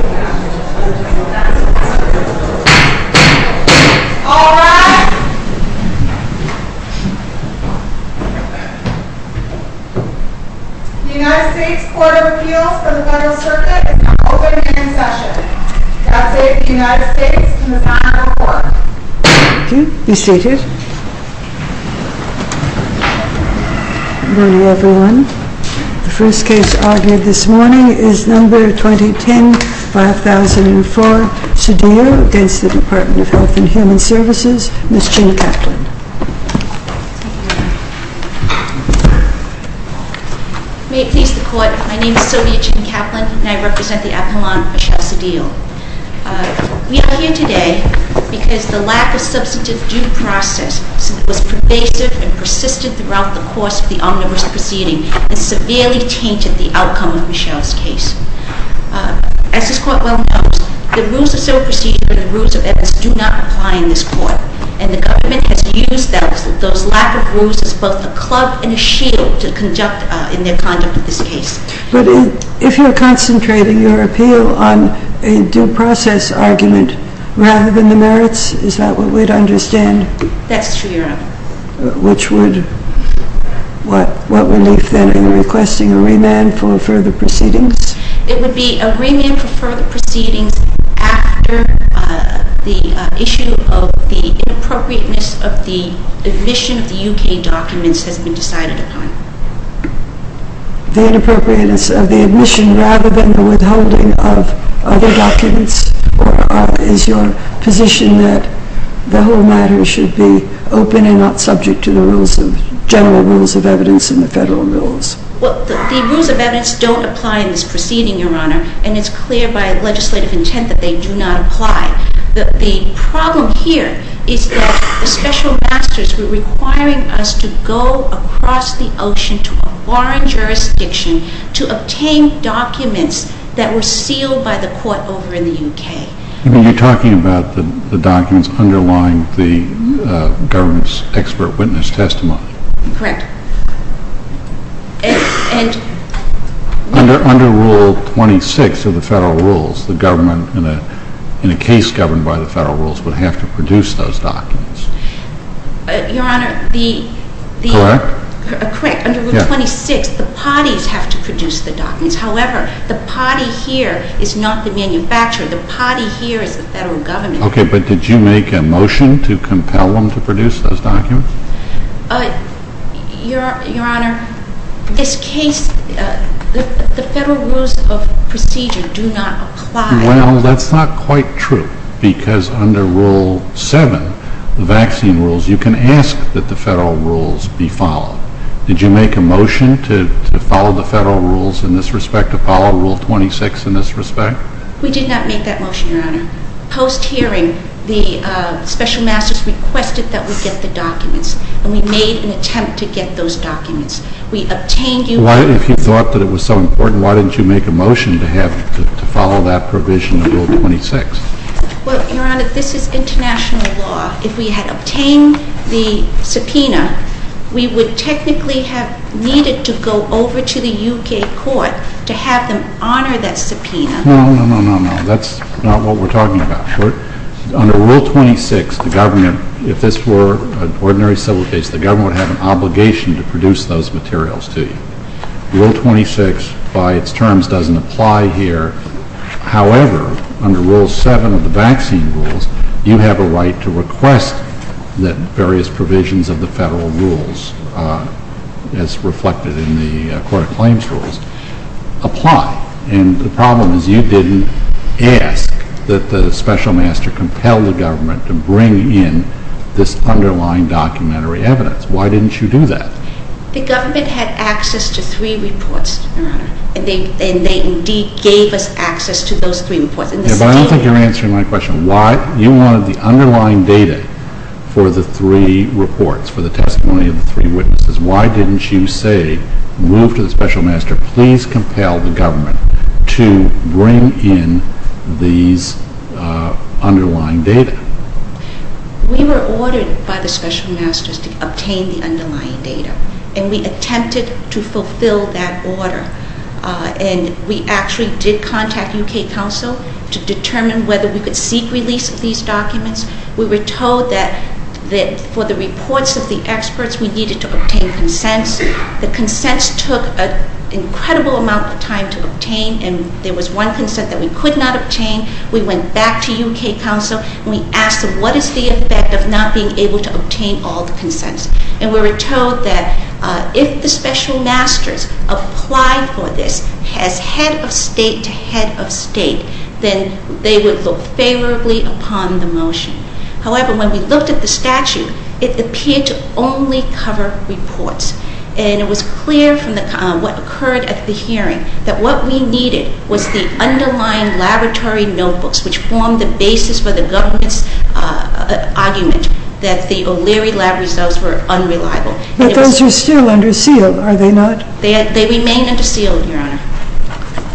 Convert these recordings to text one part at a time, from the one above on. All rise. The United States Court of Appeals for the Federal Circuit is now open for discussion. I will update the United States in the final report. Good morning, everyone. The first case argued this morning is No. 2010-5004, Cedillo v. Department of Health and Human Services, Ms. Jean Kaplan. May it please the Court, my name is Sylvia Jean Kaplan and I represent the Appellant Michelle Cedillo. We are here today because the lack of substantive due process was pervasive and persistent throughout the course of the omnibus proceeding and severely tainted the outcome of Michelle's case. As this Court well knows, the rules of civil procedure and the rules of evidence do not apply in this Court. And the government has used those lack of rules as both a club and a shield in their conduct in this case. But if you're concentrating your appeal on a due process argument rather than the merits, is that what we'd understand? That's true, Your Honor. What would leave then in requesting a remand for further proceedings? It would be a remand for further proceedings after the issue of the inappropriateness of the admission of the U.K. documents has been decided upon. The inappropriateness of the admission rather than the withholding of other documents? Or is your position that the whole matter should be open and not subject to the general rules of evidence and the federal rules? Well, the rules of evidence don't apply in this proceeding, Your Honor, and it's clear by legislative intent that they do not apply. The problem here is that the special masters were requiring us to go across the ocean to a foreign jurisdiction to obtain documents that were sealed by the Court over in the U.K. You mean you're talking about the documents underlying the government's expert witness testimony? Correct. Under Rule 26 of the federal rules, the government, in a case governed by the federal rules, would have to produce those documents. Your Honor, the… Correct? Correct. Under Rule 26, the parties have to produce the documents. However, the party here is not the manufacturer. The party here is the federal government. Okay, but did you make a motion to compel them to produce those documents? Your Honor, this case, the federal rules of procedure do not apply. Well, that's not quite true because under Rule 7, the vaccine rules, you can ask that the federal rules be followed. Did you make a motion to follow the federal rules in this respect, to follow Rule 26 in this respect? We did not make that motion, Your Honor. Post-hearing, the special masters requested that we get the documents, and we made an attempt to get those documents. We obtained you… Why, if you thought that it was so important, why didn't you make a motion to have, to follow that provision of Rule 26? Well, Your Honor, this is international law. If we had obtained the subpoena, we would technically have needed to go over to the U.K. Court to have them honor that subpoena. No, no, no, no, no, that's not what we're talking about. Under Rule 26, the government, if this were an ordinary civil case, the government would have an obligation to produce those materials to you. Rule 26, by its terms, doesn't apply here. However, under Rule 7 of the vaccine rules, you have a right to request that various provisions of the federal rules, as reflected in the court of claims rules, apply. And the problem is you didn't ask that the special master compel the government to bring in this underlying documentary evidence. Why didn't you do that? The government had access to three reports, Your Honor, and they indeed gave us access to those three reports. But I don't think you're answering my question. You wanted the underlying data for the three reports, for the testimony of the three witnesses. Why didn't you say, move to the special master, please compel the government to bring in these underlying data? We were ordered by the special masters to obtain the underlying data, and we attempted to fulfill that order. And we actually did contact U.K. counsel to determine whether we could seek release of these documents. We were told that for the reports of the experts, we needed to obtain consents. The consents took an incredible amount of time to obtain, and there was one consent that we could not obtain. We went back to U.K. counsel, and we asked them, what is the effect of not being able to obtain all the consents? And we were told that if the special masters applied for this as head of state to head of state, then they would look favorably upon the motion. However, when we looked at the statute, it appeared to only cover reports. And it was clear from what occurred at the hearing that what we needed was the underlying laboratory notebooks, which formed the basis for the government's argument that the O'Leary lab results were unreliable. But those are still under seal, are they not? They remain under seal, Your Honor.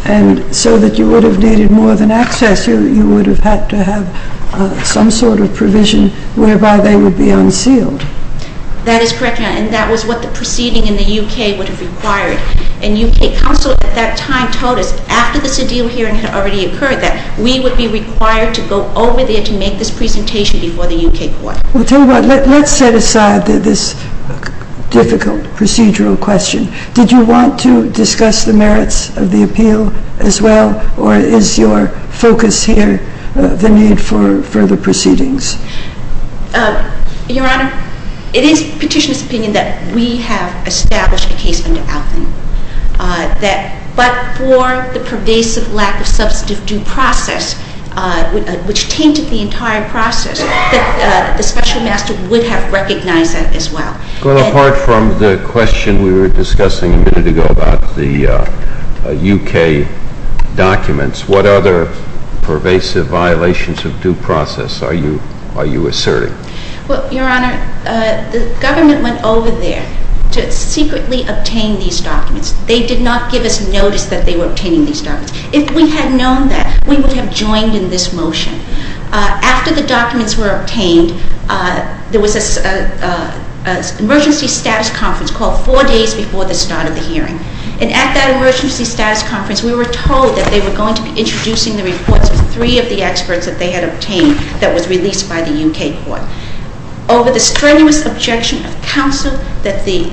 And so that you would have needed more than access, you would have had to have some sort of provision whereby they would be unsealed. That is correct, Your Honor, and that was what the proceeding in the U.K. would have required. And U.K. counsel at that time told us, after the sedial hearing had already occurred, that we would be required to go over there to make this presentation before the U.K. court. Well, tell you what, let's set aside this difficult procedural question. Did you want to discuss the merits of the appeal as well, or is your focus here the need for further proceedings? Your Honor, it is Petitioner's opinion that we have established a case under outlay, but for the pervasive lack of substantive due process, which tainted the entire process, that the Special Master would have recognized that as well. Well, apart from the question we were discussing a minute ago about the U.K. documents, what other pervasive violations of due process are you asserting? Well, Your Honor, the government went over there to secretly obtain these documents. They did not give us notice that they were obtaining these documents. If we had known that, we would have joined in this motion. After the documents were obtained, there was an emergency status conference called four days before the start of the hearing. And at that emergency status conference, we were told that they were going to be introducing the reports of three of the experts that they had obtained that was released by the U.K. court. Over the strenuous objection of counsel that the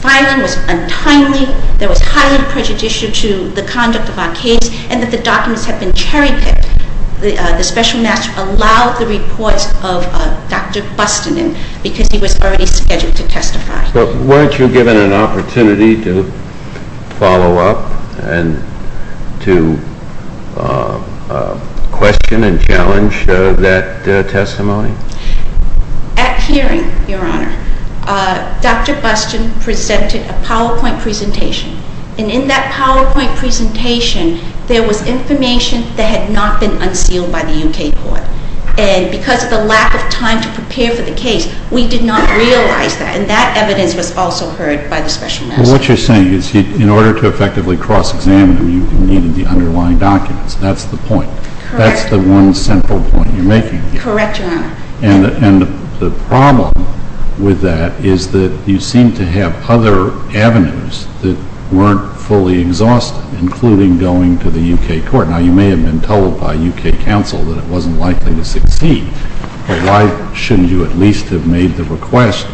filing was untimely, there was highly prejudicial to the conduct of our case, and that the documents had been cherry-picked, the Special Master allowed the reports of Dr. Buston in because he was already scheduled to testify. So weren't you given an opportunity to follow up and to question and challenge that testimony? At hearing, Your Honor, Dr. Buston presented a PowerPoint presentation. And in that PowerPoint presentation, there was information that had not been unsealed by the U.K. court. And because of the lack of time to prepare for the case, we did not realize that. And that evidence was also heard by the Special Master. Well, what you're saying is in order to effectively cross-examine them, you needed the underlying documents. That's the point. Correct. That's the one central point you're making. Correct, Your Honor. And the problem with that is that you seem to have other avenues that weren't fully exhausted, including going to the U.K. court. Now, you may have been told by U.K. counsel that it wasn't likely to succeed. But why shouldn't you at least have made the request?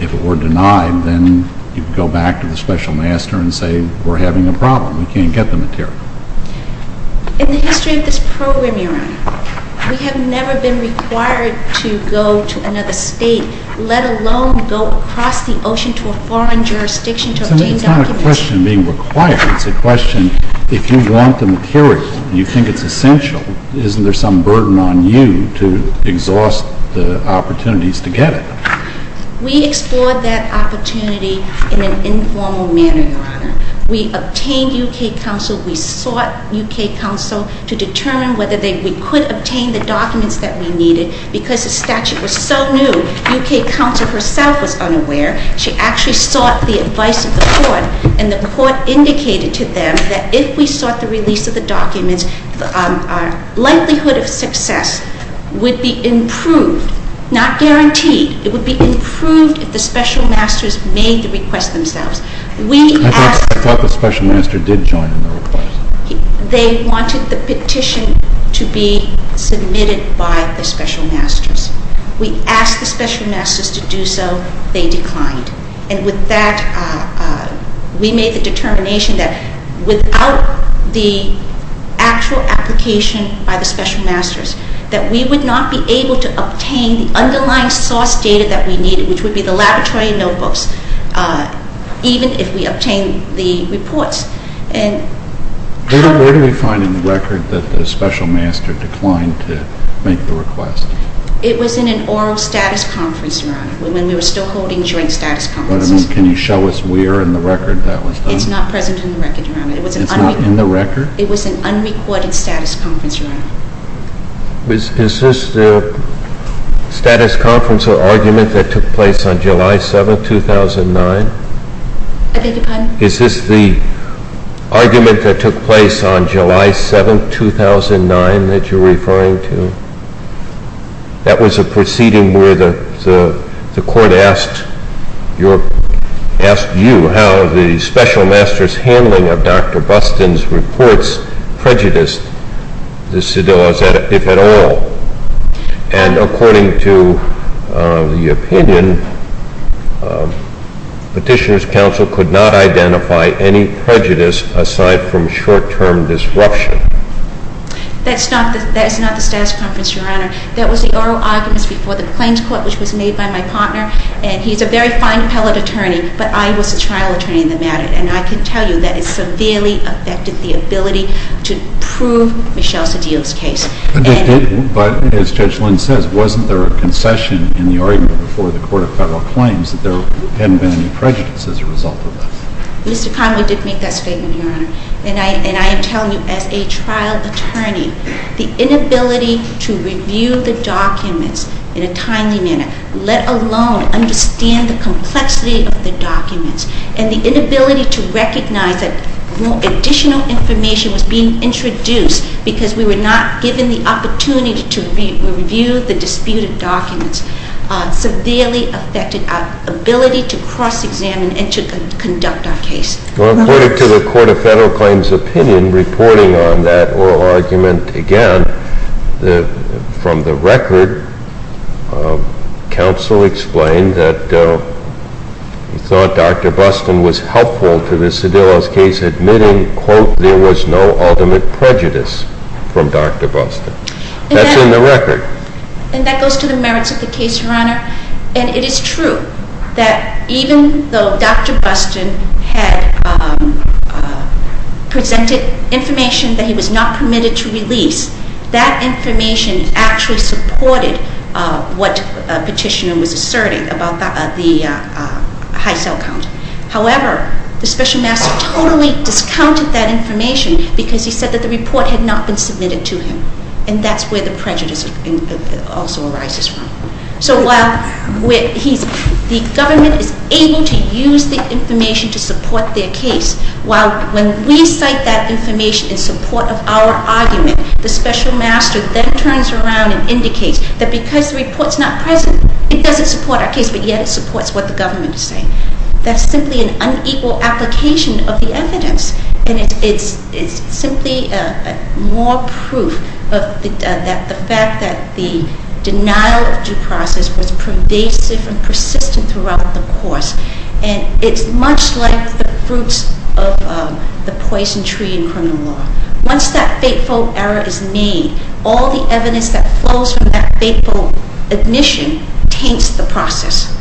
If it were denied, then you'd go back to the Special Master and say, we're having a problem. We can't get the material. In the history of this program, Your Honor, we have never been required to go to another state, let alone go across the ocean to a foreign jurisdiction to obtain documents. It's not a question being required. It's a question, if you want the material and you think it's essential, isn't there some burden on you to exhaust the opportunities to get it? We explored that opportunity in an informal manner, Your Honor. We obtained U.K. counsel. We sought U.K. counsel to determine whether we could obtain the documents that we needed. Because the statute was so new, U.K. counsel herself was unaware. She actually sought the advice of the court. And the court indicated to them that if we sought the release of the documents, our likelihood of success would be improved, not guaranteed. It would be improved if the Special Masters made the request themselves. I thought the Special Master did join in the request. They wanted the petition to be submitted by the Special Masters. We asked the Special Masters to do so. They declined. And with that, we made the determination that without the actual application by the Special Masters, that we would not be able to obtain the underlying source data that we needed, which would be the laboratory notebooks, even if we obtained the reports. Where did we find in the record that the Special Master declined to make the request? When we were still holding joint status conferences. Can you show us where in the record that was done? It's not present in the record, Your Honor. It's not in the record? It was an unrecorded status conference, Your Honor. Is this the status conference or argument that took place on July 7, 2009? I beg your pardon? Is this the argument that took place on July 7, 2009 that you're referring to? That was a proceeding where the court asked you how the Special Masters' handling of Dr. Buston's reports prejudiced the Sedillas if at all. And according to the opinion, Petitioner's counsel could not identify any prejudice aside from short-term disruption. That's not the status conference, Your Honor. That was the oral argument before the claims court, which was made by my partner. And he's a very fine appellate attorney, but I was the trial attorney in the matter. And I can tell you that it severely affected the ability to prove Michelle Sedilla's case. But as Judge Lynn says, wasn't there a concession in the argument before the Court of Federal Claims that there hadn't been any prejudice as a result of that? Mr. Conway did make that statement, Your Honor. And I am telling you, as a trial attorney, the inability to review the documents in a timely manner, let alone understand the complexity of the documents, and the inability to recognize that additional information was being introduced because we were not given the opportunity to review the disputed documents, severely affected our ability to cross-examine and to conduct our case. Well, according to the Court of Federal Claims' opinion, reporting on that oral argument again, from the record, counsel explained that he thought Dr. Buston was helpful to the Sedilla's case, admitting, quote, there was no ultimate prejudice from Dr. Buston. That's in the record. And that goes to the merits of the case, Your Honor. And it is true that even though Dr. Buston had presented information that he was not permitted to release, that information actually supported what Petitioner was asserting about the high cell count. However, the Special Master totally discounted that information because he said that the report had not been submitted to him. And that's where the prejudice also arises from. So while the government is able to use the information to support their case, while when we cite that information in support of our argument, the Special Master then turns around and indicates that because the report is not present, it doesn't support our case, but yet it supports what the government is saying. That's simply an unequal application of the evidence. And it's simply more proof of the fact that the denial of due process was pervasive and persistent throughout the course. And it's much like the fruits of the poison tree in criminal law. Once that fateful error is made, all the evidence that flows from that fateful admission taints the process.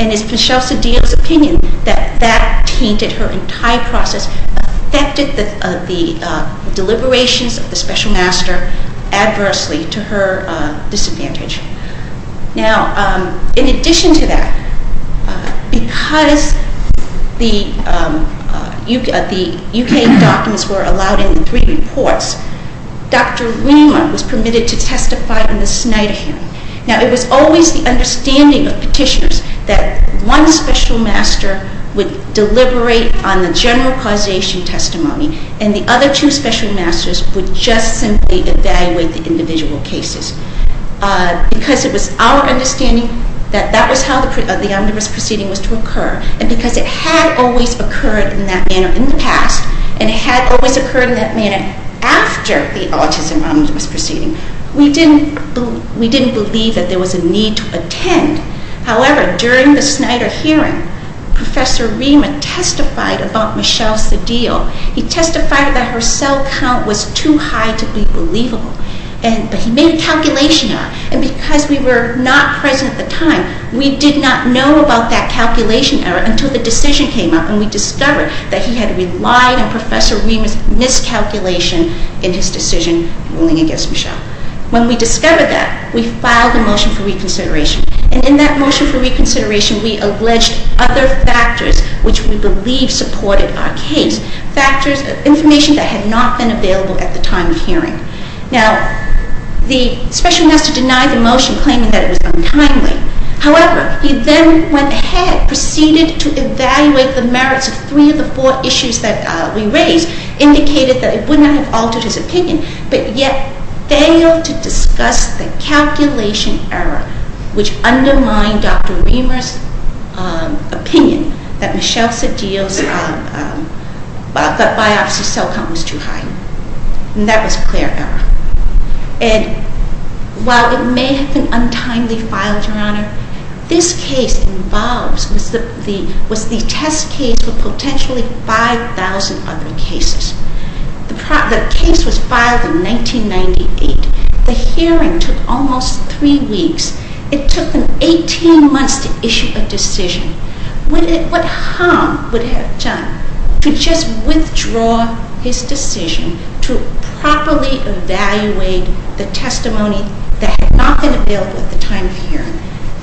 And it's Michele Sedillo's opinion that that tainted her entire process, affected the deliberations of the Special Master adversely to her disadvantage. Now, in addition to that, because the U.K. documents were allowed in the three reports, Dr. Weemer was permitted to testify in the Snyder hearing. Now, it was always the understanding of petitioners that one Special Master would deliberate on the general causation testimony and the other two Special Masters would just simply evaluate the individual cases. Because it was our understanding that that was how the omnibus proceeding was to occur, and because it had always occurred in that manner in the past, and it had always occurred in that manner after the autism omnibus proceeding, we didn't believe that there was a need to attend. However, during the Snyder hearing, Professor Weemer testified about Michele Sedillo. He testified that her cell count was too high to be believable, but he made a calculation error. And because we were not present at the time, we did not know about that calculation error until the decision came up, when we discovered that he had relied on Professor Weemer's miscalculation in his decision ruling against Michele. When we discovered that, we filed a motion for reconsideration. And in that motion for reconsideration, we alleged other factors which we believe supported our case, information that had not been available at the time of hearing. Now, the Special Master denied the motion, claiming that it was untimely. However, he then went ahead, proceeded to evaluate the merits of three of the four issues that we raised, indicated that it would not have altered his opinion, but yet failed to discuss the calculation error which undermined Dr. Weemer's opinion that Michele Sedillo's biopsy cell count was too high. And that was a clear error. And while it may have been untimely filed, Your Honor, this case involves, was the test case for potentially 5,000 other cases. The case was filed in 1998. The hearing took almost three weeks. It took them 18 months to issue a decision. What harm would it have done to just withdraw his decision to properly evaluate the testimony that had not been available at the time of hearing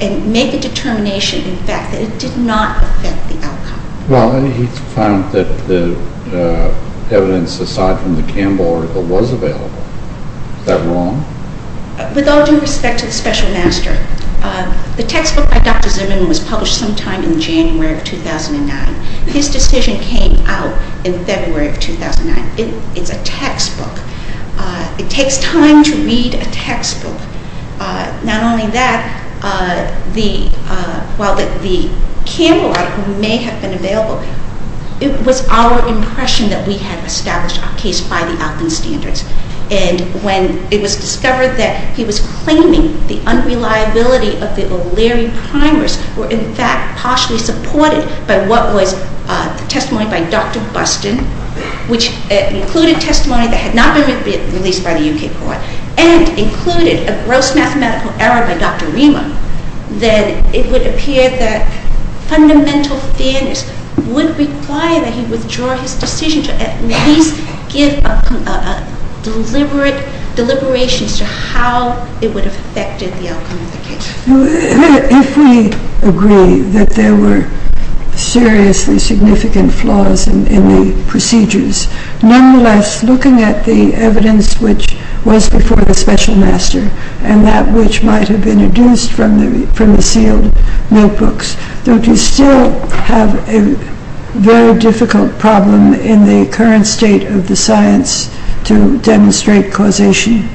and make a determination, in fact, that it did not affect the outcome? Well, he found that the evidence aside from the Campbell article was available. Is that wrong? With all due respect to the Special Master, the textbook by Dr. Zimmerman was published sometime in January of 2009. His decision came out in February of 2009. It's a textbook. It takes time to read a textbook. Not only that, while the Campbell article may have been available, it was our impression that we had established our case by the outcome standards. And when it was discovered that he was claiming the unreliability of the O'Leary primers, were in fact partially supported by what was the testimony by Dr. Buston, which included testimony that had not been released by the UK court, and included a gross mathematical error by Dr. Remer, then it would appear that fundamental fairness would require that he withdraw his decision to at least give a deliberate deliberation as to how it would have affected the outcome of the case. If we agree that there were seriously significant flaws in the procedures, nonetheless, looking at the evidence which was before the Special Master and that which might have been deduced from the sealed notebooks, don't you still have a very difficult problem in the current state of the science to demonstrate causation?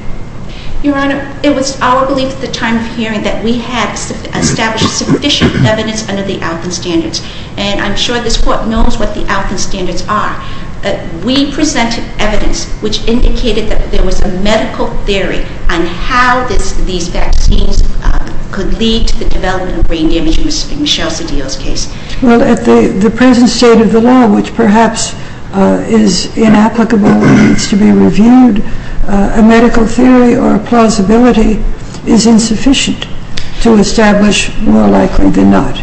Your Honor, it was our belief at the time of hearing that we had established sufficient evidence under the outcome standards. And I'm sure this Court knows what the outcome standards are. We presented evidence which indicated that there was a medical theory on how these vaccines could lead to the development of brain damage in Michelle Cedillo's case. Well, at the present state of the law, which perhaps is inapplicable and needs to be reviewed, a medical theory or a plausibility is insufficient to establish more likely than not,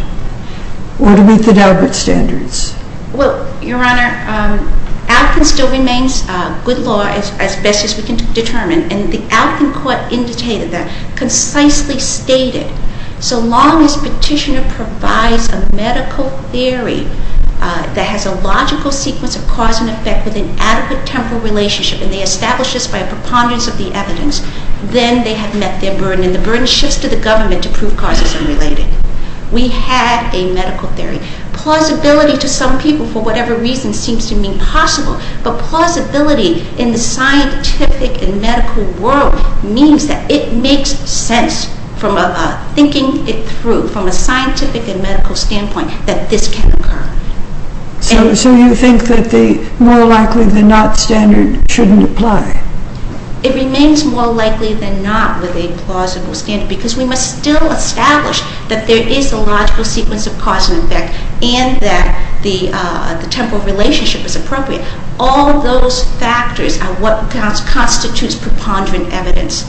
or to meet the Dalbert standards. Well, Your Honor, outcome still remains good law as best as we can determine, and the outcome court indicated that, concisely stated, so long as Petitioner provides a medical theory that has a logical sequence of cause and effect with an adequate temporal relationship and they establish this by a preponderance of the evidence, then they have met their burden. And the burden shifts to the government to prove causes unrelated. We had a medical theory. Plausibility to some people, for whatever reason, seems to me possible, but plausibility in the scientific and medical world means that it makes sense, thinking it through from a scientific and medical standpoint, that this can occur. So you think that the more likely than not standard shouldn't apply? It remains more likely than not with a plausible standard because we must still establish that there is a logical sequence of cause and effect and that the temporal relationship is appropriate. All those factors are what constitutes preponderant evidence.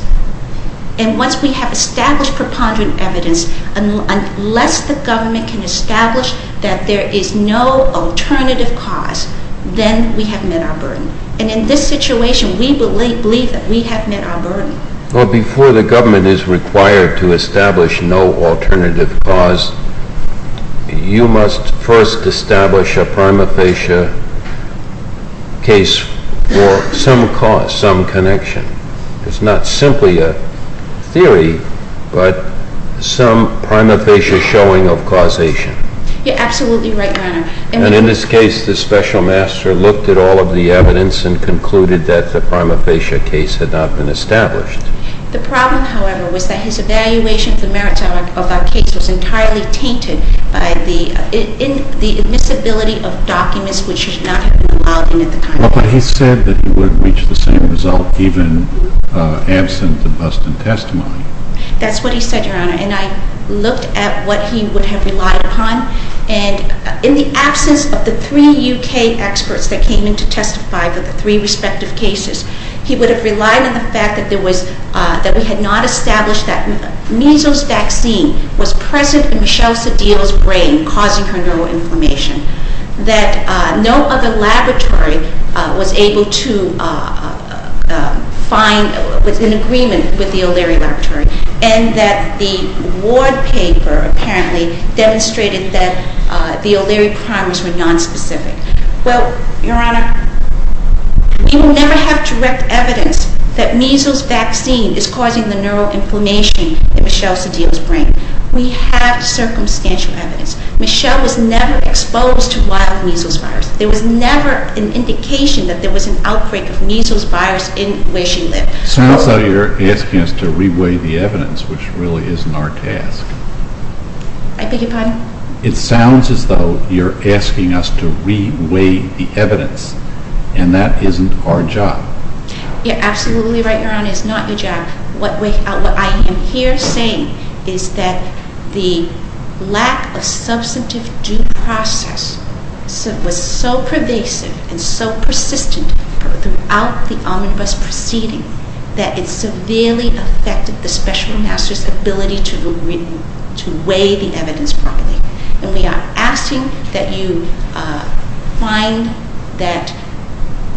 And once we have established preponderant evidence, unless the government can establish that there is no alternative cause, then we have met our burden. Well, before the government is required to establish no alternative cause, you must first establish a prima facie case for some cause, some connection. It's not simply a theory, but some prima facie showing of causation. You're absolutely right, Your Honor. And in this case, the special master looked at all of the evidence and concluded that the prima facie case had not been established. The problem, however, was that his evaluation of the merits of that case was entirely tainted by the admissibility of documents which should not have been allowed in at the time. But he said that he would have reached the same result even absent the Buston testimony. That's what he said, Your Honor. And I looked at what he would have relied upon. And in the absence of the three U.K. experts that came in to testify for the three respective cases, he would have relied on the fact that we had not established that measles vaccine was present in Michelle Sedil's brain, causing her neuroinflammation, that no other laboratory was able to find an agreement with the O'Leary Laboratory, and that the ward paper apparently demonstrated that the O'Leary primers were nonspecific. Well, Your Honor, we will never have direct evidence that measles vaccine is causing the neuroinflammation in Michelle Sedil's brain. We have circumstantial evidence. Michelle was never exposed to wild measles virus. There was never an indication that there was an outbreak of measles virus in where she lived. It sounds as though you're asking us to re-weigh the evidence, which really isn't our task. I beg your pardon? It sounds as though you're asking us to re-weigh the evidence, and that isn't our job. You're absolutely right, Your Honor. It's not your job. What I am here saying is that the lack of substantive due process was so pervasive and so persistent throughout the omnibus proceeding that it severely affected the special master's ability to weigh the evidence properly. And we are asking that you find that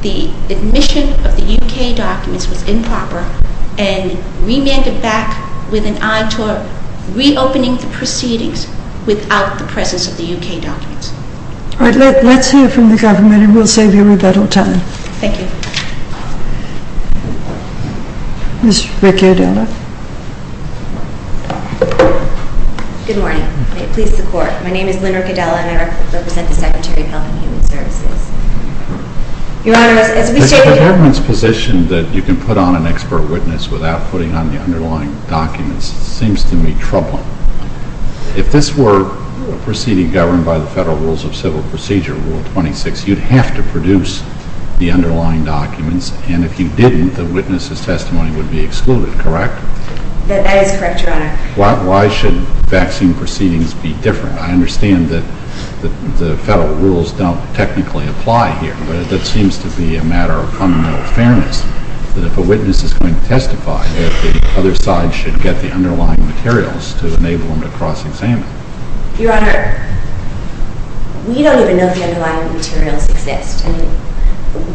the admission of the U.K. documents was improper and remand it back with an eye to reopening the proceedings without the presence of the U.K. documents. All right. Let's hear from the government, and we'll save you rebuttal time. Thank you. Ms. Riccadela. Good morning. May it please the Court. My name is Lynn Riccadela, and I represent the Secretary of Health and Human Services. Your Honor, as we stated— The government's position that you can put on an expert witness without putting on the underlying documents seems to me troubling. If this were a proceeding governed by the Federal Rules of Civil Procedure, Rule 26, you'd have to produce the underlying documents, and if you didn't, the witness's testimony would be excluded, correct? That is correct, Your Honor. Why should vaccine proceedings be different? I understand that the Federal rules don't technically apply here, but that seems to be a matter of fundamental fairness, that if a witness is going to testify, that the other side should get the underlying materials to enable them to cross-examine. Your Honor, we don't even know if the underlying materials exist.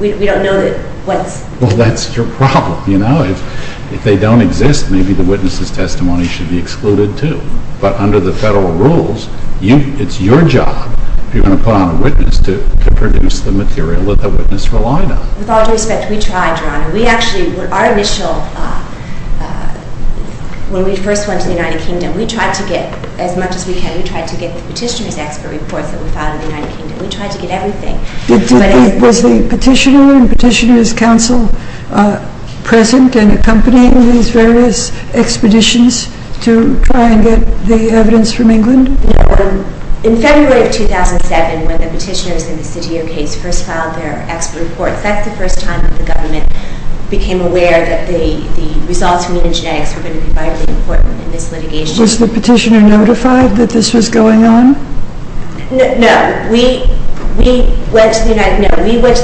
We don't know what's— Well, that's your problem, you know? If they don't exist, maybe the witness's testimony should be excluded, too. But under the Federal rules, it's your job, if you want to put on a witness, to produce the material that the witness relied on. With all due respect, we tried, Your Honor. We actually—our initial— when we first went to the United Kingdom, we tried to get as much as we could. We tried to get the petitioner's expert reports that we filed in the United Kingdom. We tried to get everything. Was the petitioner and petitioner's counsel present and accompanying these various expeditions to try and get the evidence from England? No. In February of 2007, when the petitioners in the Citio case first filed their expert reports, that's the first time that the government became aware that the results from the genetics were going to be vitally important in this litigation. Was the petitioner notified that this was going on? No. We went to the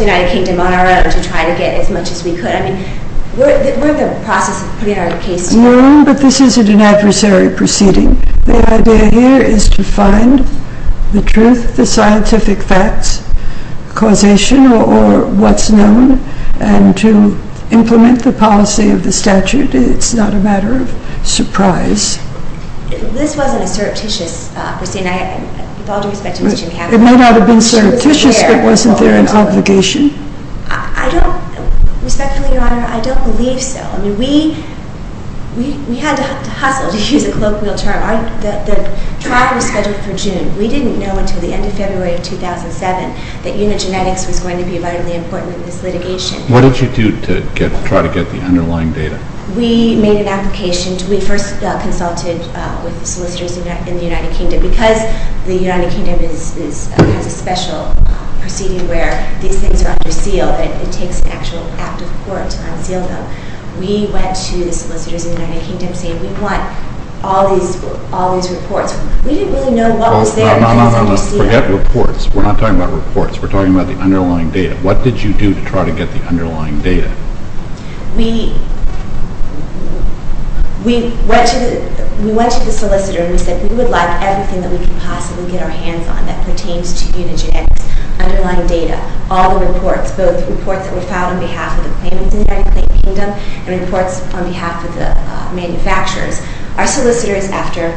United Kingdom on our own to try to get as much as we could. I mean, we're in the process of putting our case to— No, but this isn't an adversary proceeding. The idea here is to find the truth, the scientific facts, causation, or what's known, and to implement the policy of the statute. It's not a matter of surprise. This wasn't a surreptitious proceeding. With all due respect to Ms. Jim Hammond— It might not have been surreptitious, but wasn't there an obligation? I don't—respectfully, Your Honor, I don't believe so. I mean, we had to hustle, to use a colloquial term. The trial was scheduled for June. We didn't know until the end of February of 2007 that unigenetics was going to be vitally important in this litigation. What did you do to try to get the underlying data? We made an application. We first consulted with solicitors in the United Kingdom because the United Kingdom has a special proceeding where these things are under seal. It takes an actual act of court to unseal them. We went to the solicitors in the United Kingdom saying, we want all these reports. We didn't really know what was there— No, no, no, no, forget reports. We're not talking about reports. We're talking about the underlying data. What did you do to try to get the underlying data? We went to the solicitor and we said, we would like everything that we could possibly get our hands on that pertains to unigenetics, underlying data, all the reports, both reports that were filed on behalf of the claimants in the United Kingdom and reports on behalf of the manufacturers. Our solicitors, after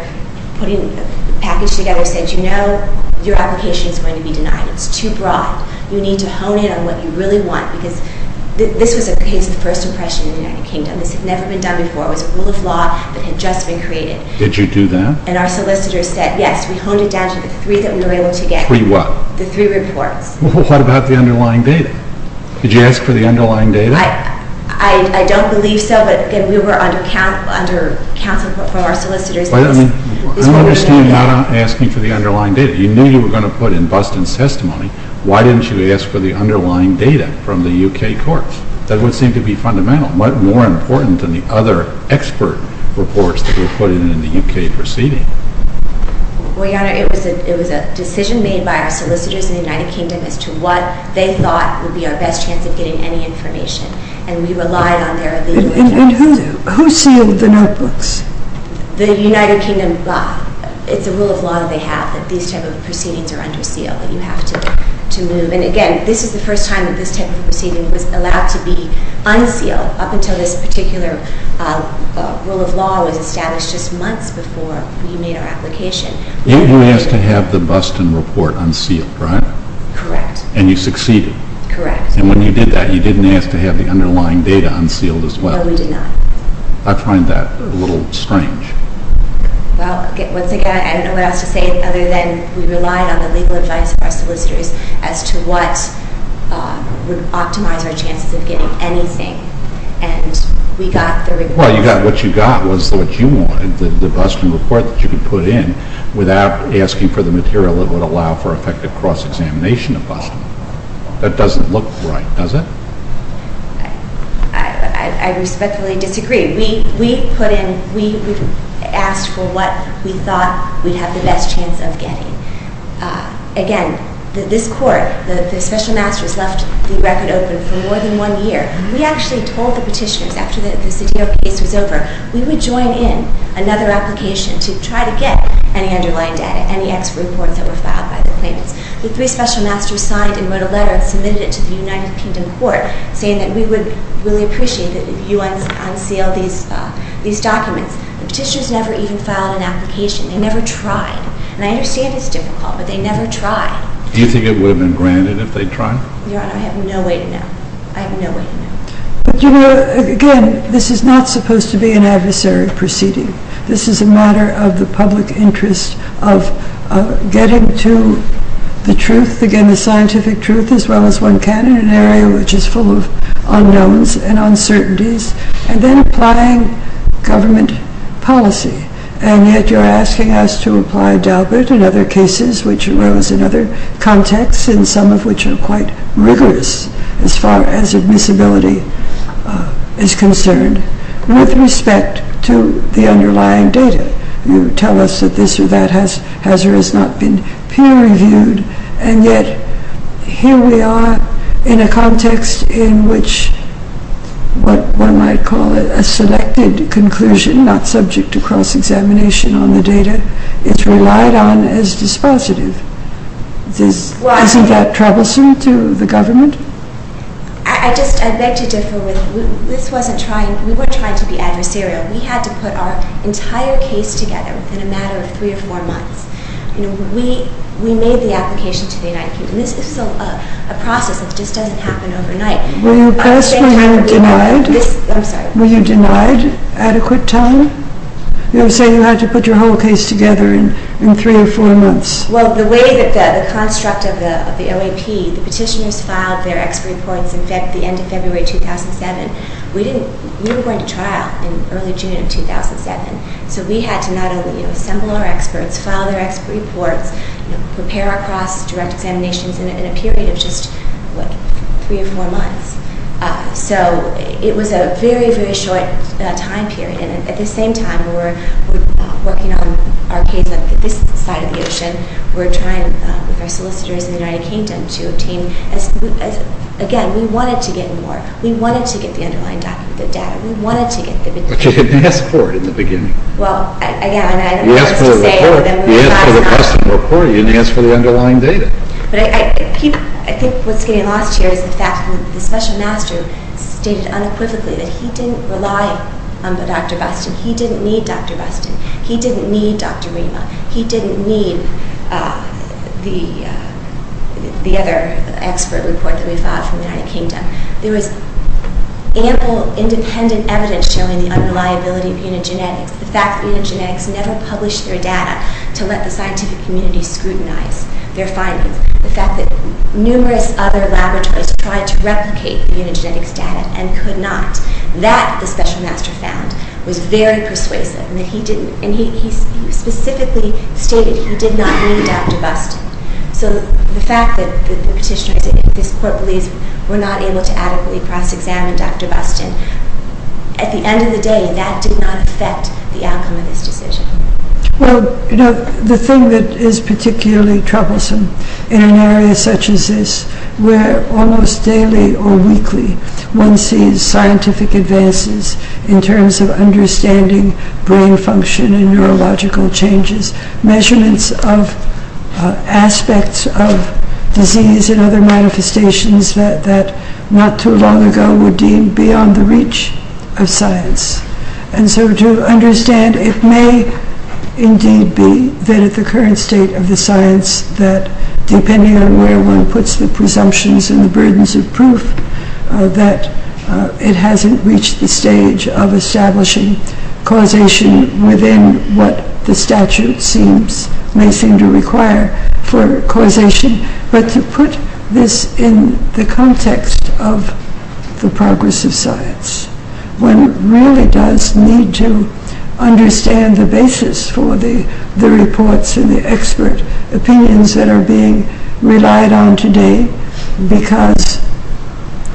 putting the package together, said, you know, your application is going to be denied. It's too broad. You need to hone in on what you really want because this was a case of first impression in the United Kingdom. This had never been done before. It was a rule of law that had just been created. Did you do that? And our solicitors said, yes. We honed it down to the three that we were able to get. Three what? The three reports. What about the underlying data? Did you ask for the underlying data? I don't believe so, but we were under counsel from our solicitors. I understand not asking for the underlying data. You knew you were going to put in Buston's testimony. Why didn't you ask for the underlying data from the U.K. courts? That would seem to be fundamental. What more important than the other expert reports that were put in in the U.K. proceeding? Well, Your Honor, it was a decision made by our solicitors in the United Kingdom as to what they thought would be our best chance of getting any information, and we relied on their leaders. And who sealed the notebooks? The United Kingdom. It's a rule of law they have that these type of proceedings are under seal, that you have to move. And, again, this is the first time that this type of proceeding was allowed to be unsealed up until this particular rule of law was established just months before we made our application. You were asked to have the Buston report unsealed, right? Correct. And you succeeded? Correct. And when you did that, you didn't ask to have the underlying data unsealed as well? No, we did not. I find that a little strange. Well, once again, I don't know what else to say other than we relied on the legal advice of our solicitors as to what would optimize our chances of getting anything. And we got the report. Well, what you got was what you wanted, the Buston report that you could put in without asking for the material that would allow for effective cross-examination of Buston. That doesn't look right, does it? I respectfully disagree. We asked for what we thought we'd have the best chance of getting. Again, this Court, the special masters left the record open for more than one year. We actually told the petitioners after the Cedillo case was over, we would join in another application to try to get any underlying data, any ex reports that were filed by the claimants. The three special masters signed and wrote a letter and submitted it to the United Kingdom Court saying that we would really appreciate that you unseal these documents. The petitioners never even filed an application. They never tried. And I understand it's difficult, but they never tried. Do you think it would have been granted if they'd tried? Your Honor, I have no way to know. I have no way to know. But, you know, again, this is not supposed to be an adversary proceeding. This is a matter of the public interest of getting to the truth, again, the scientific truth, as well as one can in an area which is full of unknowns and uncertainties, and then applying government policy. And yet you're asking us to apply Daubert and other cases which arose in other contexts, and some of which are quite rigorous as far as admissibility is concerned, with respect to the underlying data. You tell us that this or that hazard has not been peer-reviewed, and yet here we are in a context in which what one might call a selected conclusion, not subject to cross-examination on the data, is relied on as dispositive. Isn't that troublesome to the government? I beg to differ with you. We were trying to be adversarial. We had to put our entire case together in a matter of three or four months. We made the application to the United Kingdom. This is a process that just doesn't happen overnight. Were you oppressed? Were you denied adequate time? You were saying you had to put your whole case together in three or four months. Well, the way that the construct of the LAP, the petitioners filed their expert reports, in fact, the end of February 2007, we were going to trial in early June of 2007, so we had to not only assemble our experts, file their expert reports, prepare our cross-direct examinations in a period of just three or four months. So it was a very, very short time period. At the same time, we were working on our case on this side of the ocean. We were trying with our solicitors in the United Kingdom to obtain, again, we wanted to get more. We wanted to get the underlying data. We wanted to get the petition. But you didn't ask for it in the beginning. You asked for the Boston report. You didn't ask for the underlying data. I think what's getting lost here is the fact that the special master stated unequivocally that he didn't rely on Dr. Buston. He didn't need Dr. Buston. He didn't need Dr. Rema. He didn't need the other expert report that we filed from the United Kingdom. There was ample independent evidence showing the unreliability of genetics. The fact that unigenetics never published their data to let the scientific community scrutinize their findings. The fact that numerous other laboratories tried to replicate the unigenetics data and could not. That, the special master found, was very persuasive. And he specifically stated he did not need Dr. Buston. So the fact that the petitioner, if this court believes we're not able to adequately cross-examine Dr. Buston, at the end of the day, that did not affect the outcome of this decision. Well, you know, the thing that is particularly troublesome in an area such as this, where almost daily or weekly one sees scientific advances in terms of understanding brain function and neurological changes, measurements of aspects of disease and other manifestations that not too long ago were deemed beyond the reach of science. And so to understand, it may indeed be that at the current state of the science, that depending on where one puts the presumptions and the burdens of proof, that it hasn't reached the stage of establishing causation within what the statute may seem to require for causation. But to put this in the context of the progress of science, one really does need to understand the basis for the reports and the expert opinions that are being relied on today. Because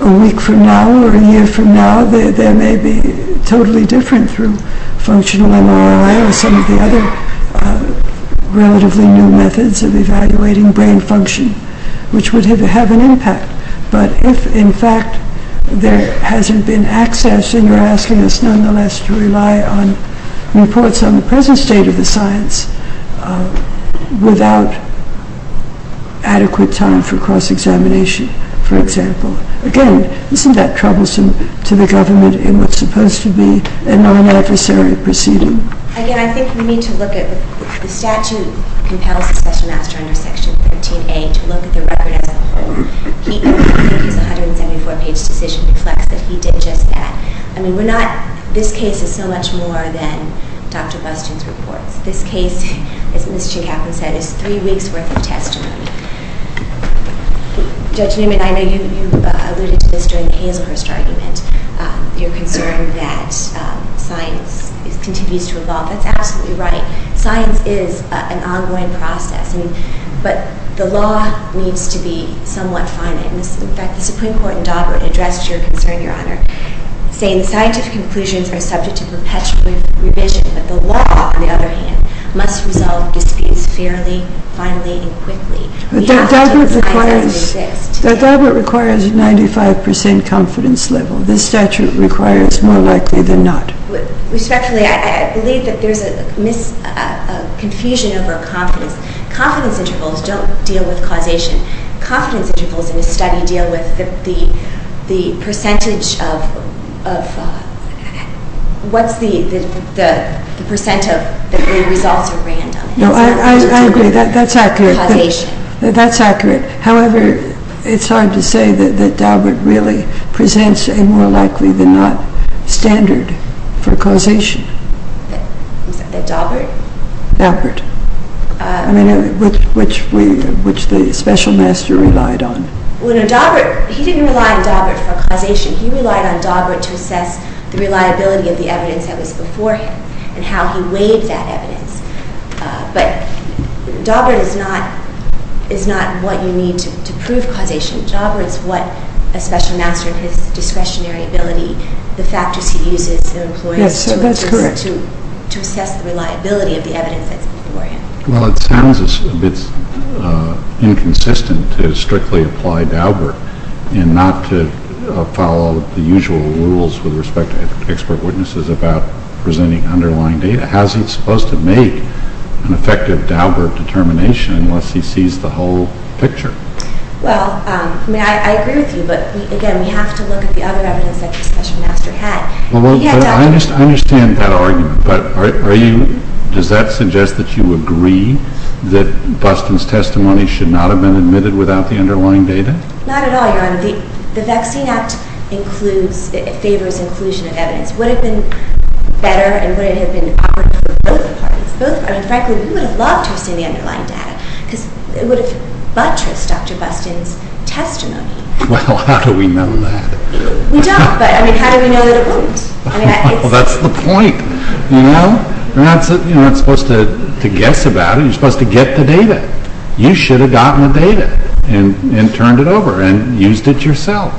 a week from now or a year from now, there may be totally different through functional MRI or some of the other relatively new methods of evaluating brain function, which would have an impact. But if, in fact, there hasn't been access, then you're asking us nonetheless to rely on reports on the present state of the science without adequate time for cross-examination, for example. Again, isn't that troublesome to the government in what's supposed to be a non-unnecessary proceeding? Again, I think we need to look at the statute compels the session master under Section 13A to look at the record as a whole. His 174-page decision reflects that he did just that. I mean, this case is so much more than Dr. Buston's reports. This case, as Ms. Chincaplin said, is three weeks' worth of testimony. Judge Newman, I know you alluded to this during the Hazelhurst argument, your concern that science continues to evolve. That's absolutely right. Science is an ongoing process. But the law needs to be somewhat finite. In fact, the Supreme Court in Daubert addressed your concern, Your Honor, saying the scientific conclusions are subject to perpetual revision, but the law, on the other hand, must resolve disputes fairly, finally, and quickly. But Daubert requires a 95% confidence level. This statute requires more likely than not. Respectfully, I believe that there's a confusion over confidence. Confidence intervals don't deal with causation. Confidence intervals in a study deal with the percentage of... What's the percent of the results are random? No, I agree. That's accurate. Causation. That's accurate. However, it's hard to say that Daubert really presents a more likely than not standard for causation. I'm sorry, that Daubert? Daubert. I mean, which the special master relied on. Daubert, he didn't rely on Daubert for causation. He relied on Daubert to assess the reliability of the evidence that was before him and how he weighed that evidence. But Daubert is not what you need to prove causation. Daubert is what a special master in his discretionary ability, the factors he uses to assess the reliability of the evidence that's before him. Well, it sounds a bit inconsistent to strictly apply Daubert and not to follow the usual rules with respect to expert witnesses about presenting underlying data. How is he supposed to make an effective Daubert determination unless he sees the whole picture? Well, I mean, I agree with you. But again, we have to look at the other evidence that the special master had. I understand that argument. But does that suggest that you agree that Buston's testimony should not have been admitted without the underlying data? Not at all, Your Honor. The Vaccine Act favors inclusion of evidence. Would it have been better and would it have been better for both parties? I mean, frankly, we would have loved to have seen the underlying data because it would have buttressed Dr. Buston's testimony. Well, how do we know that? We don't, but I mean, how do we know that it won't? Well, that's the point, you know? You're not supposed to guess about it. You're supposed to get the data. You should have gotten the data and turned it over and used it yourself.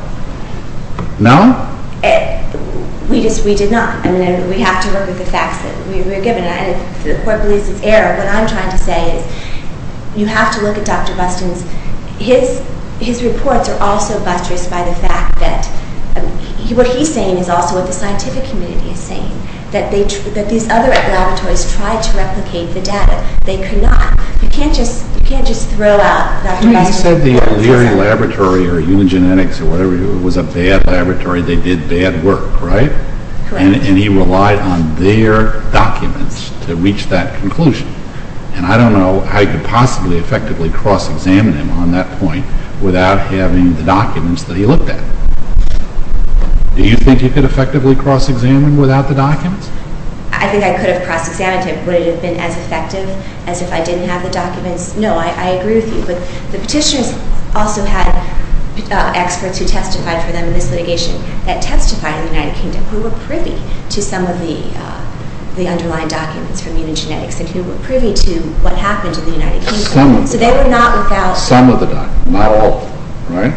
No? We did not. I mean, we have to work with the facts that we were given. The Court believes it's error. What I'm trying to say is you have to look at Dr. Buston's. His reports are also buttressed by the fact that what he's saying is also what the scientific community is saying, that these other laboratories tried to replicate the data. They could not. You can't just throw out Dr. Buston's testimony. He said the O'Leary Laboratory or Unigenetics or whatever it was, a bad laboratory. They did bad work, right? Correct. And he relied on their documents to reach that conclusion. And I don't know how you could possibly effectively cross-examine him on that point without having the documents that he looked at. Do you think you could effectively cross-examine without the documents? I think I could have cross-examined him. Would it have been as effective as if I didn't have the documents? No, I agree with you, but the petitioners also had experts who testified for them in this litigation that testified in the United Kingdom who were privy to some of the underlying documents from Unigenetics and who were privy to what happened in the United Kingdom. Some of them. Some of the documents. Not all of them. Right?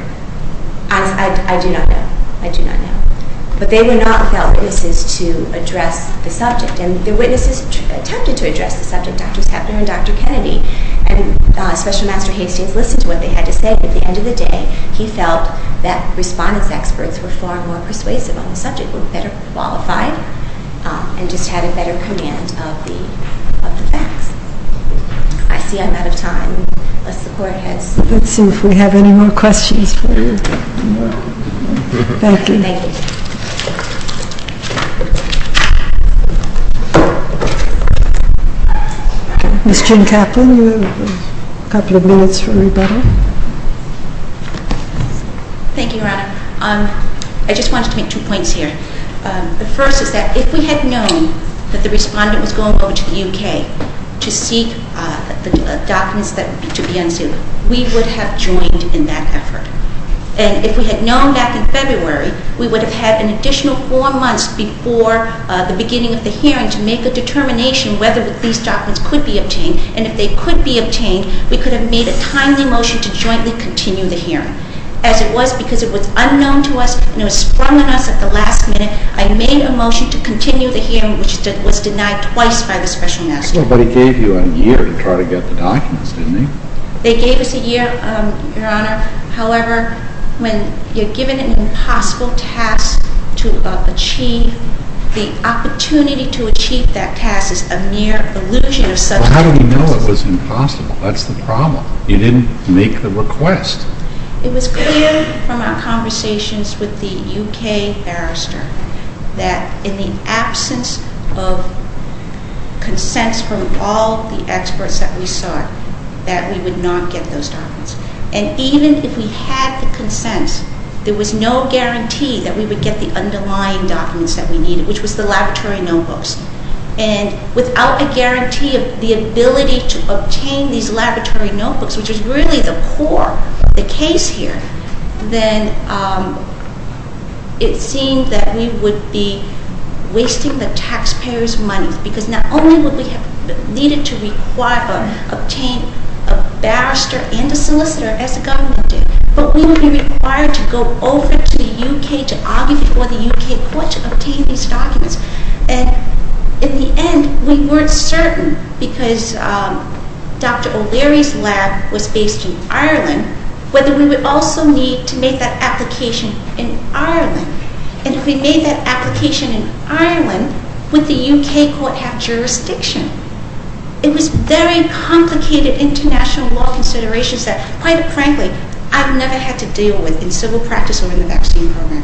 I do not know. I do not know. But they were not without witnesses to address the subject, and the witnesses attempted to address the subject, Dr. Schaffner and Dr. Kennedy, and Special Master Hastings listened to what they had to say. At the end of the day, he felt that respondents' experts were far more persuasive on the subject, were better qualified, and just had a better command of the facts. I see I'm out of time, unless the Court has... Let's see if we have any more questions for you. Thank you. Thank you. Ms. Jim Kaplan, you have a couple of minutes for rebuttal. Thank you, Your Honor. I just wanted to make two points here. The first is that if we had known that the respondent was going over to the UK to seek the documents to be unsealed, we would have joined in that effort. And if we had known back in February, we would have had an additional four months before the beginning of the hearing to make a determination whether these documents could be obtained. And if they could be obtained, we could have made a timely motion to jointly continue the hearing. As it was, because it was unknown to us and it was sprung on us at the last minute, I made a motion to continue the hearing, which was denied twice by the Special Master. But he gave you a year to try to get the documents, didn't he? They gave us a year, Your Honor. However, when you're given an impossible task to achieve, the opportunity to achieve that task is a mere illusion of substance. Well, how do we know it was impossible? That's the problem. You didn't make the request. It was clear from our conversations with the UK barrister that in the absence of consents from all the experts that we sought, that we would not get those documents. And even if we had the consents, there was no guarantee that we would get the underlying documents that we needed, which was the laboratory notebooks. And without a guarantee of the ability to obtain these laboratory notebooks, which is really the core of the case here, then it seemed that we would be wasting the taxpayers' money. Because not only would we have needed to obtain a barrister and a solicitor, as the government did, but we would be required to go over to the UK geography or the UK court to obtain these documents. And in the end, we weren't certain, because Dr. O'Leary's lab was based in Ireland, whether we would also need to make that application in Ireland. And if we made that application in Ireland, would the UK court have jurisdiction? It was very complicated international law considerations that, quite frankly, I've never had to deal with in civil practice or in the vaccine program.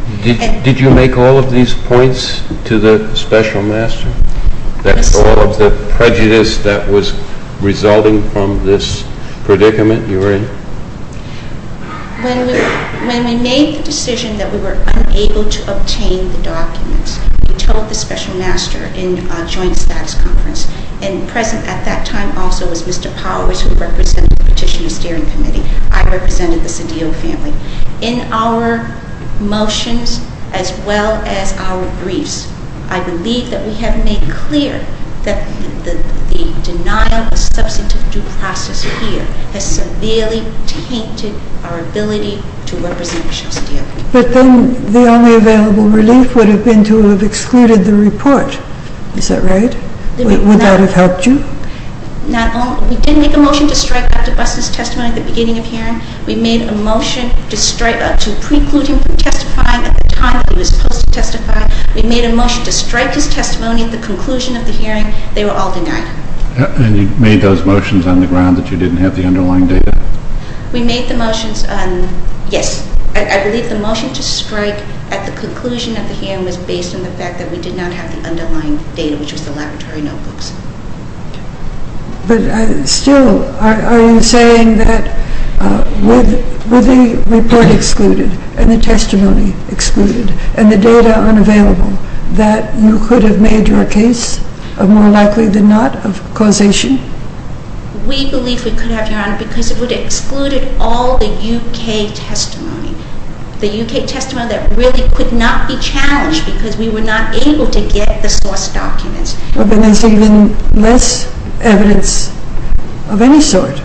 Did you make all of these points to the special master? Yes. That's all of the prejudice that was resulting from this predicament you were in? When we made the decision that we were unable to obtain the documents, we told the special master in a joint status conference, and present at that time also was Mr. Powers, who represented the Petitioner's Steering Committee. I represented the Cedillo family. In our motions, as well as our briefs, I believe that we have made clear that the denial of substantive due process here has severely tainted our ability to represent Cedillo. But then the only available relief would have been to have excluded the report. Is that right? Would that have helped you? We didn't make a motion to strike Dr. Buston's testimony at the beginning of hearing. We made a motion to preclude him from testifying at the time that he was supposed to testify. We made a motion to strike his testimony at the conclusion of the hearing. They were all denied. And you made those motions on the ground that you didn't have the underlying data? We made the motions on, yes, I believe the motion to strike at the conclusion of the hearing was based on the fact that we did not have the underlying data, which was the laboratory notebooks. But still, are you saying that with the report excluded, and the testimony excluded, and the data unavailable, that you could have made your case of more likely than not of causation? We believe we could have, Your Honor, because it would have excluded all the U.K. testimony. The U.K. testimony that really could not be challenged because we were not able to get the source documents. But then there's even less evidence of any sort.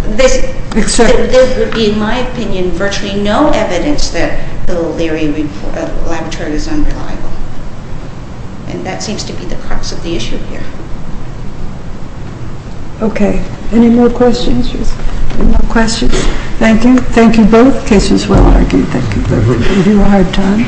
There would be, in my opinion, virtually no evidence that the laboratory is unreliable. And that seems to be the crux of the issue here. Okay. Any more questions? Any more questions? Thank you. Thank you both. The case is well argued. Thank you both. You do a hard job.